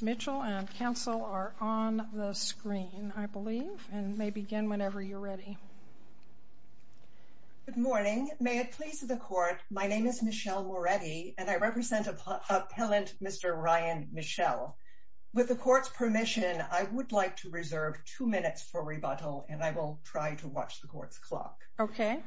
Mitchell and counsel are on the screen, I believe, and may begin whenever you're ready. Good morning, may it please the court, my name is Michelle Moretti and I represent Appellant Mr. Ryan Michell. With the court's permission, I would like to reserve two minutes for rebuttal and I will try to watch the court's clock. Okay.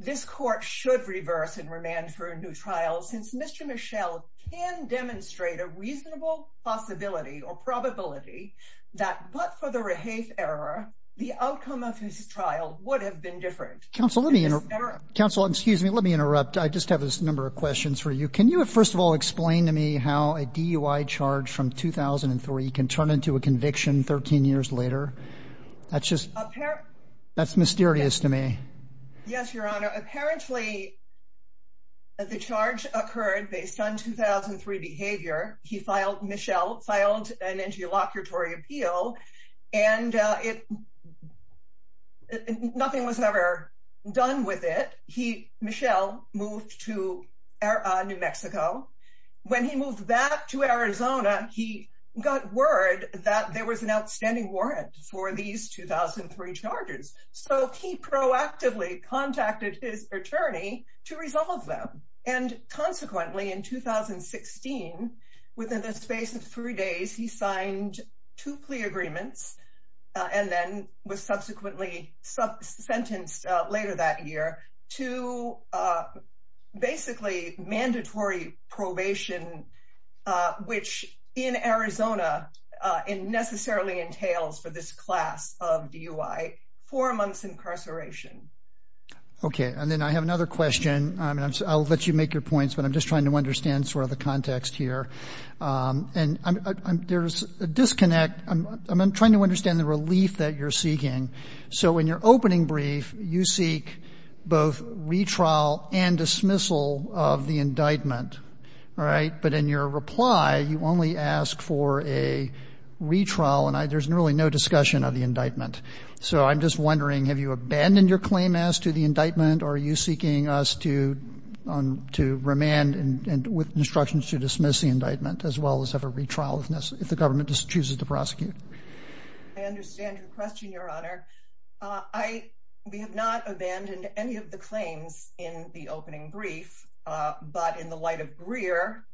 This court should reverse and remand for a new trial since Mr. Michell can demonstrate a reasonable possibility or probability that but for the Rehaith error, the outcome of his trial would have been different. Counsel, let me interrupt. Counsel, excuse me, let me interrupt. I just have this number of questions for you. Can you, first of all, explain to me how a DUI charge from 2003 can turn into a conviction 13 years later? That's just, that's mysterious to me. Yes, your honor. Apparently, the charge occurred based on 2003 behavior. He filed, Michelle filed an interlocutory appeal and nothing was ever done with it. Michelle moved to New Mexico. When he moved back to Arizona, he got word that there was an outstanding warrant for these 2003 charges. So he proactively contacted his attorney to resolve them. And consequently, in 2016, within the space of three days, he signed two plea agreements and then was subsequently sentenced later that year to basically mandatory probation, which in Arizona necessarily entails for this class of DUI four months incarceration. Okay, and then I have another question. I'll let you make your points, but I'm just trying to understand sort of the context here. And there's a disconnect. I'm trying to understand the relief that you're seeking. So in your opening brief, you seek both retrial and dismissal of the indictment. All right, but in your reply, you only ask for a retrial and there's really no discussion of the indictment. So I'm just wondering, have you abandoned your claim as to the indictment or are you seeking us to remand and with instructions to dismiss the indictment as well as have a retrial if necessary, if the government just chooses to prosecute? I understand your question, Your Honor. We have not abandoned any of the claims in the opening brief, but in the light of Greer,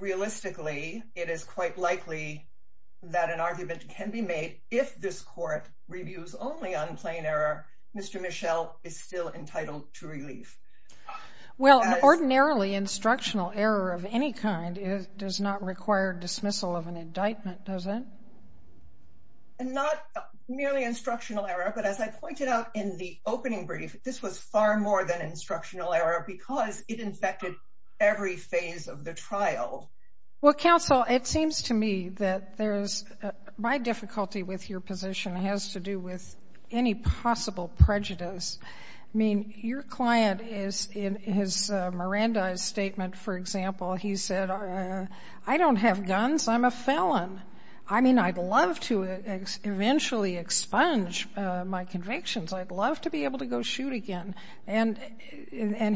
realistically, it is quite likely that an argument can be made if this court reviews only on plain error, Mr. Mischel is still entitled to relief. Well, an ordinarily instructional error of any kind does not require dismissal of an indictment, does it? And not merely instructional error, but as I pointed out in the opening brief, this was far more than instructional error because it infected every phase of the trial. Well, counsel, it seems to me that there's, my difficulty with your position has to do with any possible prejudice. I mean, your client is, in his Miranda's statement, for example, he said, I don't have guns, I'm a felon. I mean, I'd love to eventually expunge my convictions. I'd love to be able to go shoot again. And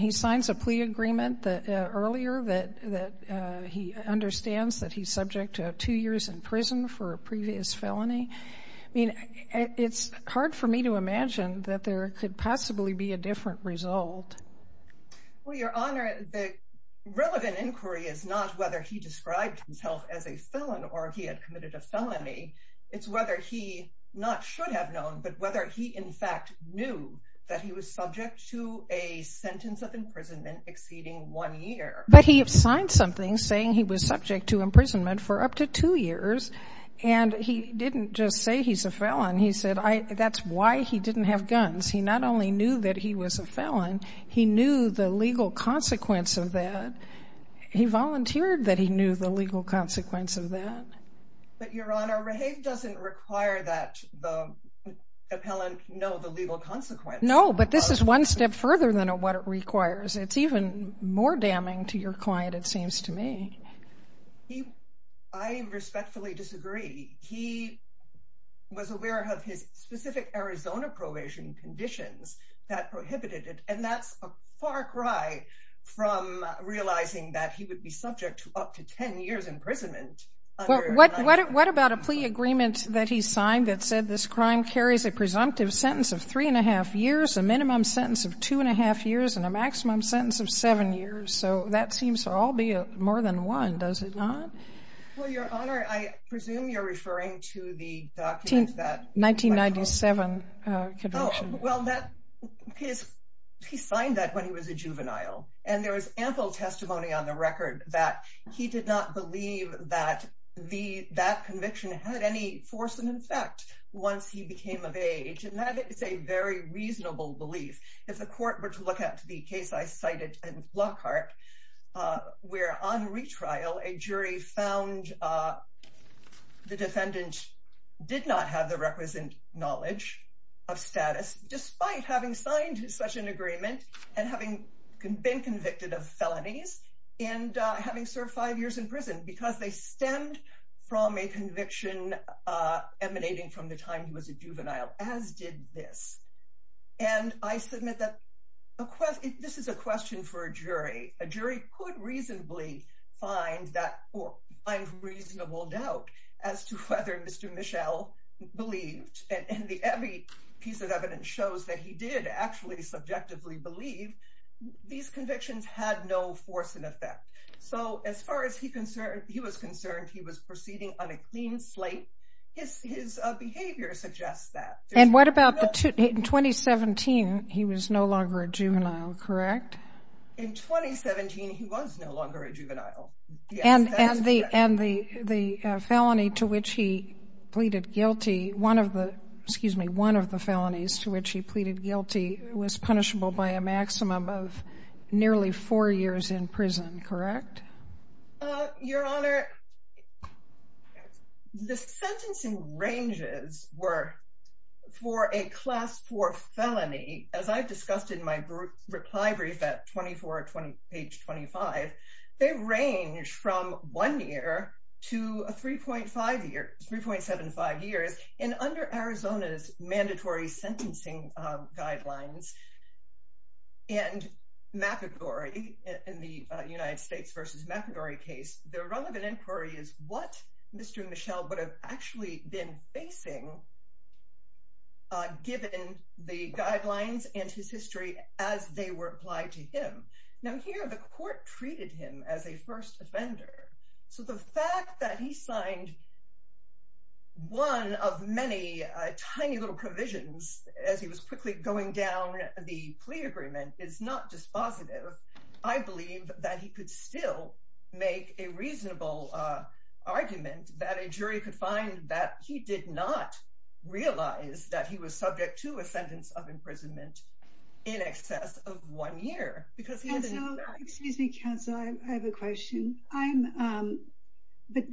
he signs a plea agreement earlier that he understands that he's subject to two years in prison for a previous felony. I mean, it's hard for me to imagine that there could possibly be a different result. Well, Your Honor, the relevant inquiry is not whether he described himself as a felon or he had committed a felony. It's whether he not should have known, but whether he in fact knew that he was subject to a sentence of imprisonment exceeding one year. But he signed something saying he was subject to imprisonment for up to two years. And he didn't just say he's a felon. He said, that's why he didn't have guns. He not only knew that he was a felon, he knew the legal consequence of that. He volunteered that he knew the legal consequence of that. But Your Honor, Rahave doesn't require that the appellant know the legal consequence. No, but this is one step further than what it requires. It's even more damning to your client, it seems to me. I respectfully disagree. He was aware of his specific Arizona probation conditions that prohibited it. And that's a far cry from realizing that he would be subject to up to 10 years imprisonment. What about a plea agreement that he signed that said this crime carries a presumptive sentence of three and a half years, a minimum sentence of two and a half years, and a maximum sentence of seven years. So that seems to all be more than one, does it not? Well, Your Honor, I presume you're referring to the document that- 1997 conviction. Well, he signed that when he was a juvenile. And there was ample testimony on the record that he did not believe that that conviction had any force and effect once he became of age. And that is a very reasonable belief. If the court were to look at the case I cited in Lockhart, where on retrial, a jury found the defendant did not have the requisite knowledge of status, despite having signed such an agreement and having been convicted of felonies and having served five years in prison because they stemmed from a conviction emanating from the time he was a juvenile, as did this. And I submit that this is a question for a jury. A jury could reasonably find reasonable doubt as to whether Mr. Michel believed. And every piece of evidence shows that he did actually subjectively believe these convictions had no force and effect. So as far as he was concerned, he was proceeding on a clean slate. His behavior suggests that. And what about the, in 2017, he was no longer a juvenile, correct? In 2017, he was no longer a juvenile. And the felony to which he pleaded guilty, one of the, excuse me, one of the felonies to which he pleaded guilty was punishable by a maximum of nearly four years in prison, correct? Your Honor, the sentencing ranges were for a class four felony, as I've discussed in my reply brief at 24, page 25, they range from one year to a 3.5 years, 3.75 years. And under Arizona's mandatory sentencing guidelines and McEgory in the United States versus McEgory case, the relevant inquiry is what Mr. Michel would have actually been facing given the guidelines and his history as they were applied to him. Now here, the court treated him as a first offender. So the fact that he signed one of many tiny little provisions as he was quickly going down the plea agreement is not dispositive. I believe that he could still make a reasonable argument that a jury could find that he did not realize that he was subject to a sentence of imprisonment in excess of one year, because he hasn't- Excuse me, counsel, I have a question. But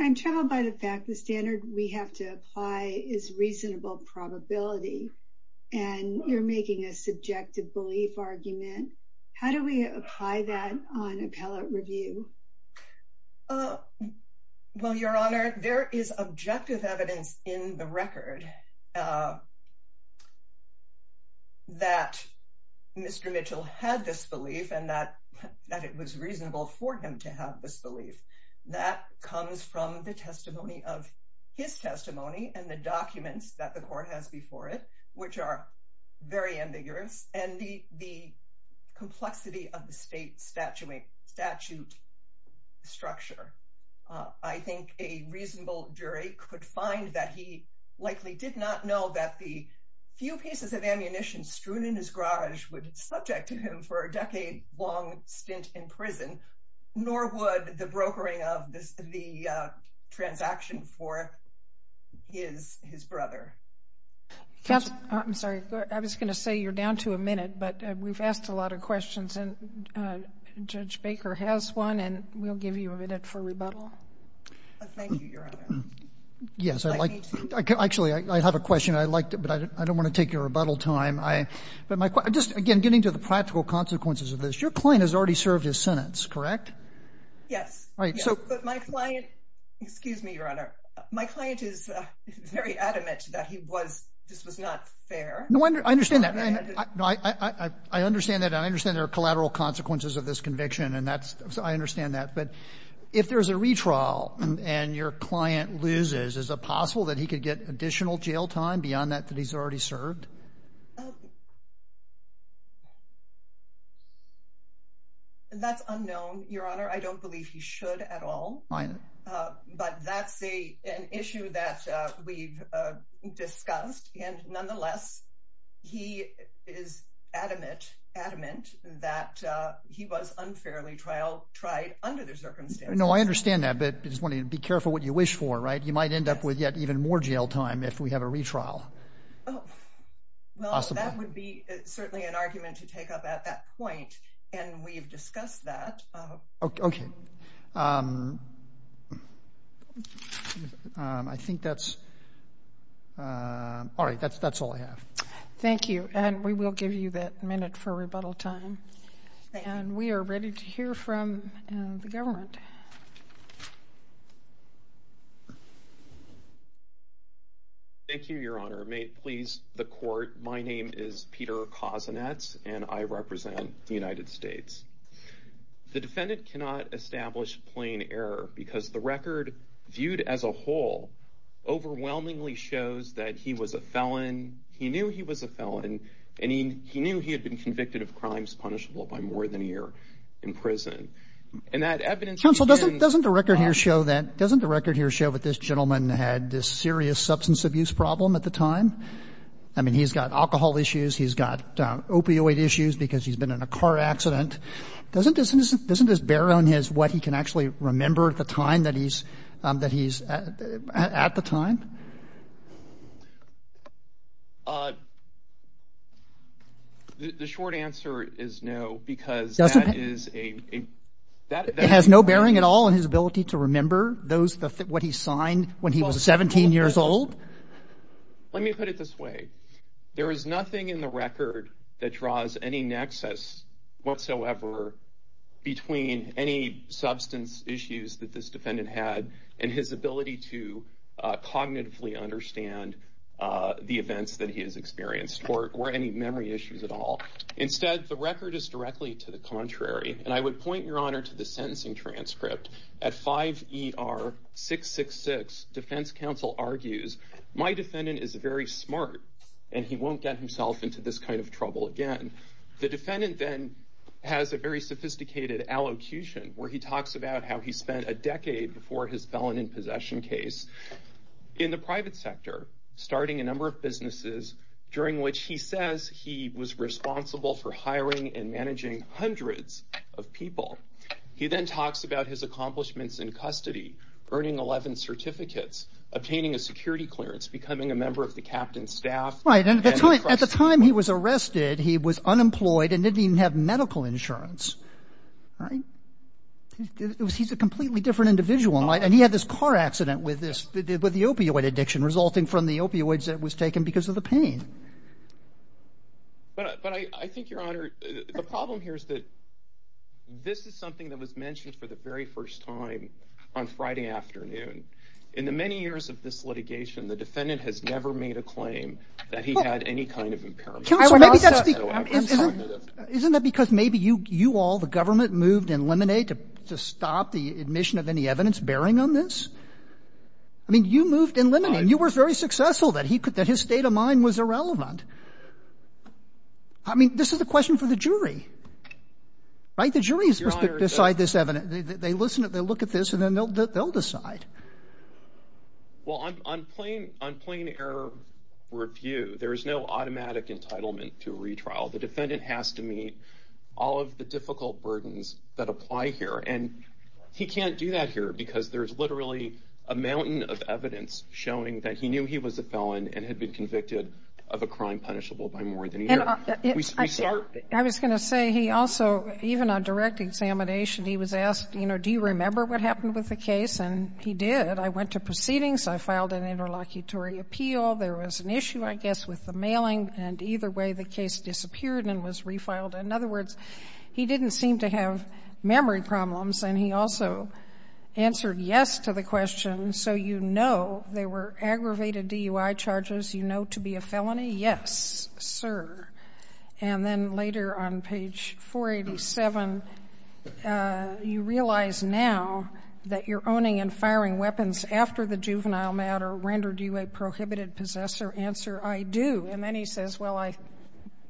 I'm troubled by the fact the standard we have to apply is reasonable probability and you're making a subjective belief argument. How do we apply that on appellate review? Well, Your Honor, there is objective evidence in the record that Mr. Michel had this belief and that it was reasonable for him to have this belief. That comes from the testimony of his testimony and the documents that the court has before it, which are very ambiguous. And the complexity of the state statute structure. I think a reasonable jury could find that he likely did not know that the few pieces of ammunition strewn in his garage would subject him for a decade long stint in prison, nor would the brokering of the transaction for his brother. Counsel, I'm sorry, I was gonna say you're down to a minute, but we've asked a lot of questions and Judge Baker has one and we'll give you a minute for rebuttal. Thank you, Your Honor. Yes, I like, actually, I have a question. I liked it, but I don't wanna take your rebuttal time. But my, just again, getting to the practical consequences of this, your client has already served his sentence, correct? Yes. But my client, excuse me, Your Honor, my client is very adamant that he was, this was not fair. No wonder, I understand that. No, I understand that and I understand there are collateral consequences of this conviction and that's, so I understand that. But if there's a retrial and your client loses, is it possible that he could get additional jail time beyond that that he's already served? That's unknown, Your Honor. I don't believe he should at all. But that's an issue that we've discussed. And nonetheless, he is adamant that he was unfairly tried under the circumstances. No, I understand that, but I just want you to be careful what you wish for, right? You might end up with yet even more jail time if we have a retrial. Well, that would be certainly an argument to take up at that point and we've discussed that. Okay. Okay. I think that's, all right, that's all I have. Thank you and we will give you that minute for rebuttal time. And we are ready to hear from the government. Thank you, Your Honor. May it please the court, my name is Peter Kozinets and I represent the United States. The defendant cannot establish plain error because the record viewed as a whole overwhelmingly shows that he was a felon. He knew he was a felon and he knew he had been convicted of crimes punishable by more than a year in prison. And that evidence- Counsel, doesn't the record here show that, doesn't the record here show that this gentleman had this serious substance abuse problem at the time? I mean, he's got alcohol issues, he's got opioid issues because he's been in a car accident. Doesn't this bear on his, what he can actually remember at the time that he's, at the time? The short answer is no, because that is a- It has no bearing at all on his ability to remember those, what he signed when he was 17 years old? Let me put it this way. There is nothing in the record that draws any nexus whatsoever between any substance issues that this defendant had and his ability to cognitively understand the events that he has experienced or any memory issues at all. Instead, the record is directly to the contrary. And I would point your honor to the sentencing transcript. At 5ER666, defense counsel argues, my defendant is very smart and he won't get himself into this kind of trouble again. The defendant then has a very sophisticated allocution where he talks about how he spent a decade before his felon in possession case in the private sector, starting a number of businesses during which he says he was responsible for hiring and managing hundreds of people. He then talks about his accomplishments in custody, earning 11 certificates, obtaining a security clearance, becoming a member of the captain's staff. Right, and at the time he was arrested, he was unemployed and didn't even have medical insurance. He's a completely different individual. And he had this car accident with the opioid addiction resulting from the opioids that was taken because of the pain. this is something that was mentioned for the very first time on Friday afternoon. In the many years of this litigation, the defendant has never made a claim that he had any kind of impairment. Isn't that because maybe you all, the government moved in limine to stop the admission of any evidence bearing on this? I mean, you moved in limine, you were very successful that his state of mind was irrelevant. I mean, this is a question for the jury, right? How do the juries decide this evidence? They listen, they look at this and then they'll decide. Well, on plain error review, there is no automatic entitlement to a retrial. The defendant has to meet all of the difficult burdens that apply here. And he can't do that here because there's literally a mountain of evidence showing that he knew he was a felon and had been convicted of a crime punishable by more than a year. I was gonna say he also, even on direct examination, he was asked, do you remember what happened with the case? And he did, I went to proceedings, I filed an interlocutory appeal. There was an issue, I guess, with the mailing and either way the case disappeared and was refiled. In other words, he didn't seem to have memory problems and he also answered yes to the question. So you know, there were aggravated DUI charges, you know to be a felony? Yes, sir. And then later on page 487, you realize now that you're owning and firing weapons after the juvenile matter rendered you a prohibited possessor, answer, I do. And then he says, well,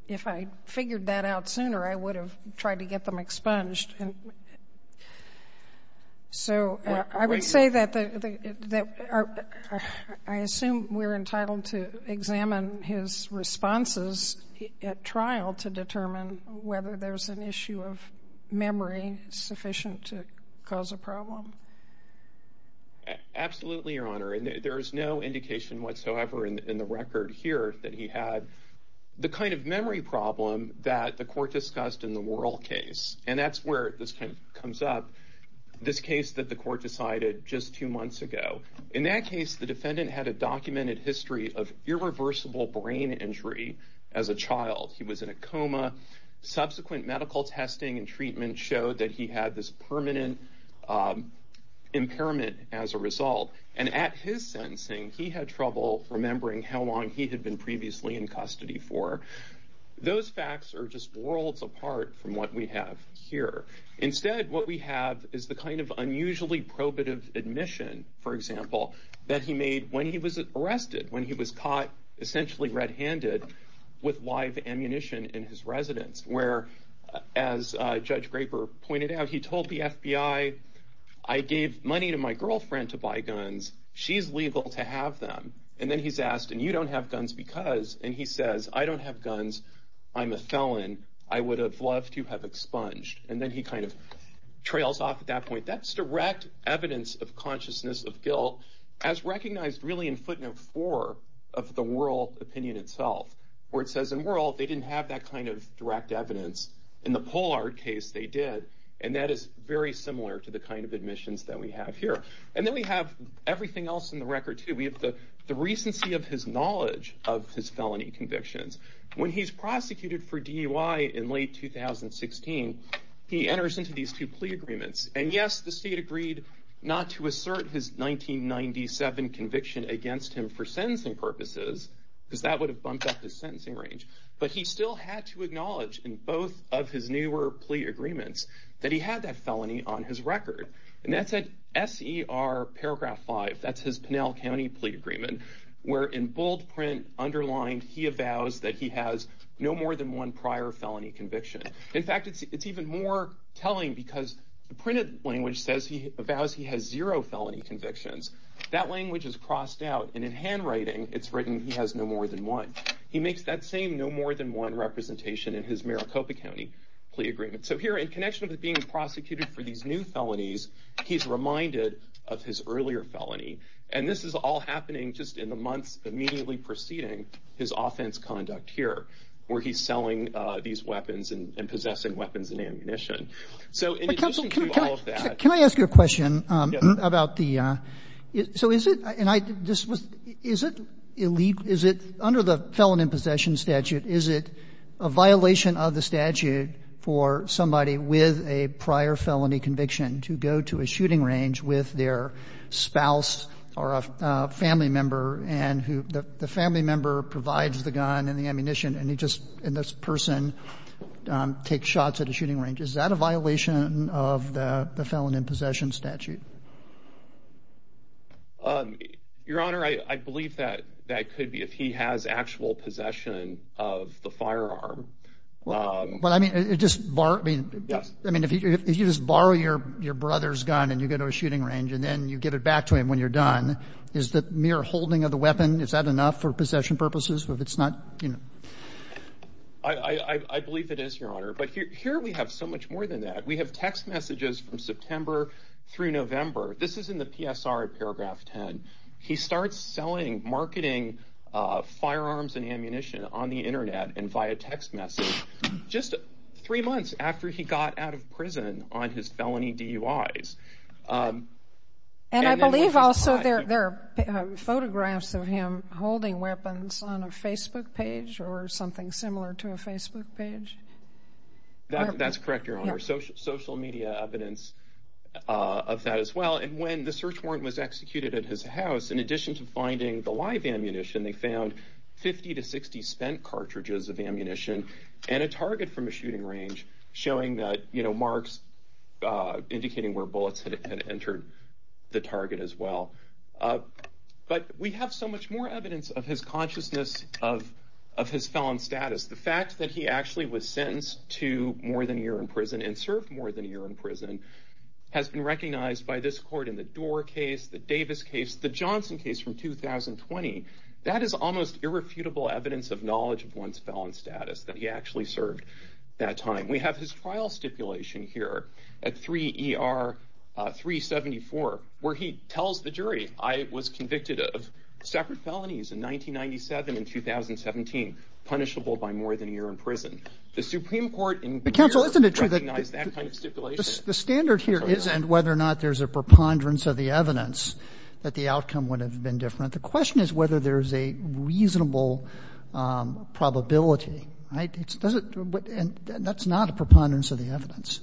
if I figured that out sooner, I would have tried to get them expunged. So I would say that I assume we're entitled to examine his responses at trial to determine whether there's an issue of memory sufficient to cause a problem. Absolutely, Your Honor, and there is no indication whatsoever in the record here that he had the kind of memory problem that the court discussed in the Worrell case. And that's where this comes up, this case that the court decided just two months ago. In that case, the defendant had a documented history of irreversible brain injury as a child. He was in a coma. Subsequent medical testing and treatment showed that he had this permanent impairment as a result. And at his sentencing, he had trouble remembering how long he had been previously in custody for. Those facts are just worlds apart from what we have here. Instead, what we have is the kind of that he made when he was arrested, when he was caught essentially red-handed with live ammunition in his residence, where, as Judge Graper pointed out, he told the FBI, I gave money to my girlfriend to buy guns. She's legal to have them. And then he's asked, and you don't have guns because, and he says, I don't have guns. I'm a felon. I would have loved to have expunged. And then he kind of trails off at that point. That's direct evidence of consciousness of guilt as recognized really in footnote four of the Wuerl opinion itself, where it says in Wuerl, they didn't have that kind of direct evidence. In the Pollard case, they did. And that is very similar to the kind of admissions that we have here. And then we have everything else in the record too. We have the recency of his knowledge of his felony convictions. When he's prosecuted for DUI in late 2016, he enters into these two plea agreements. And yes, the state agreed not to assert his 1997 conviction against him for sentencing purposes, because that would have bumped up his sentencing range. But he still had to acknowledge in both of his newer plea agreements that he had that felony on his record. And that's at SER paragraph five. That's his Pinell County plea agreement, where in bold print underlined, he avows that he has no more than one prior felony conviction. In fact, it's even more telling, because the printed language says he avows he has zero felony convictions. That language is crossed out. And in handwriting, it's written he has no more than one. He makes that same no more than one representation in his Maricopa County plea agreement. So here, in connection with being prosecuted for these new felonies, he's reminded of his earlier felony. And this is all happening just in the months immediately preceding his offense conduct here, where he's selling these weapons and possessing weapons and ammunition. So in addition to all of that. Can I ask you a question about the, so is it, and I just was, is it elite, is it under the Felon in Possession statute, is it a violation of the statute for somebody with a prior felony conviction to go to a shooting range with their spouse or a family member, and who the family member provides the gun and the ammunition, and he just, and this person takes shots at a shooting range. Is that a violation of the Felon in Possession statute? Your Honor, I believe that that could be if he has actual possession of the firearm. But I mean, it just, I mean, if you just borrow your brother's gun, and you go to a shooting range, and then you give it back to him when you're done, is the mere holding of the weapon, is that enough for possession purposes? If it's not, you know. I believe it is, Your Honor. But here we have so much more than that. We have text messages from September through November. This is in the PSR at paragraph 10. He starts selling, marketing firearms and ammunition on the internet and via text message just three months after he got out of prison on his felony DUIs. And I believe also there are photographs of him holding weapons on a Facebook page or something similar to a Facebook page. That's correct, Your Honor. Social media evidence of that as well. And when the search warrant was executed at his house, in addition to finding the live ammunition, they found 50 to 60 spent cartridges of ammunition and a target from a shooting range, showing that marks indicating where bullets had entered the target as well. But we have so much more evidence of his consciousness of his felon status. The fact that he actually was sentenced to more than a year in prison and served more than a year in prison has been recognized by this court in the Dorr case, the Davis case, the Johnson case from 2020. That is almost irrefutable evidence of knowledge of one's felon status, that he actually served that time. We have his trial stipulation here at 3 ER 374, where he tells the jury, I was convicted of separate felonies in 1997 and 2017, punishable by more than a year in prison. The Supreme Court in New York recognized that kind of stipulation. The standard here isn't whether or not there's a preponderance of the evidence that the outcome would have been different. The question is whether there's a reasonable probability. And that's not a preponderance of the evidence.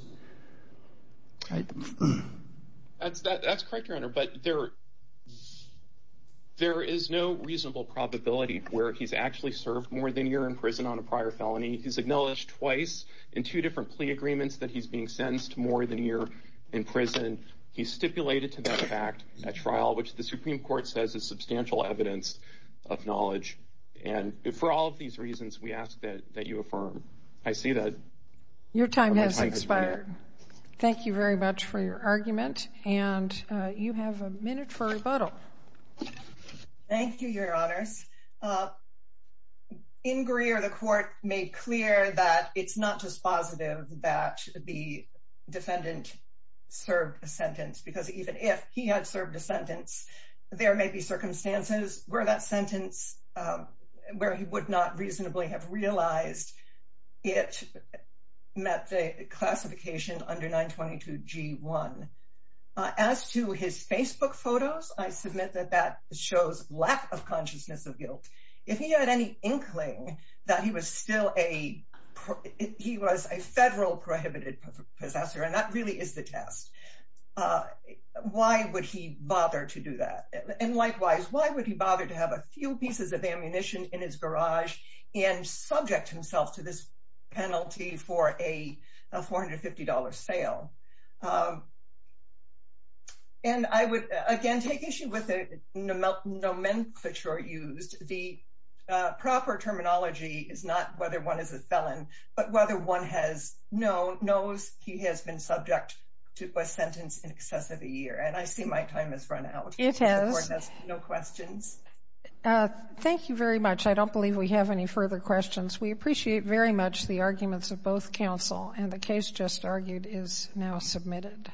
That's correct, Your Honor, but there is no reasonable probability where he's actually served more than a year in prison on a prior felony. He's acknowledged twice in two different plea agreements that he's being sentenced to more than a year in prison. He's stipulated to that fact at trial, which the Supreme Court says is substantial evidence of knowledge. And for all of these reasons, we ask that you affirm. I see that. Your time has expired. Thank you very much for your argument. And you have a minute for rebuttal. Thank you, Your Honors. In Greer, the court made clear that it's not just positive that the defendant served a sentence, because even if he had served a sentence, there may be circumstances where that sentence, where he would not reasonably have realized it met the classification under 922 G1. As to his Facebook photos, I submit that that shows lack of consciousness of guilt. If he had any inkling that he was still a, he was a federal prohibited possessor, and that really is the test, why would he bother to do that? And likewise, why would he bother to have a few pieces of ammunition in his garage and subject himself to this penalty for a $450 sale? And I would, again, take issue with the nomenclature used. The proper terminology is not whether one is a felon, but whether one knows he has been subject to a sentence in excess of a year. And I see my time has run out. It has. No questions. Thank you very much. I don't believe we have any further questions. We appreciate very much the arguments of both counsel, and the case just argued is now submitted.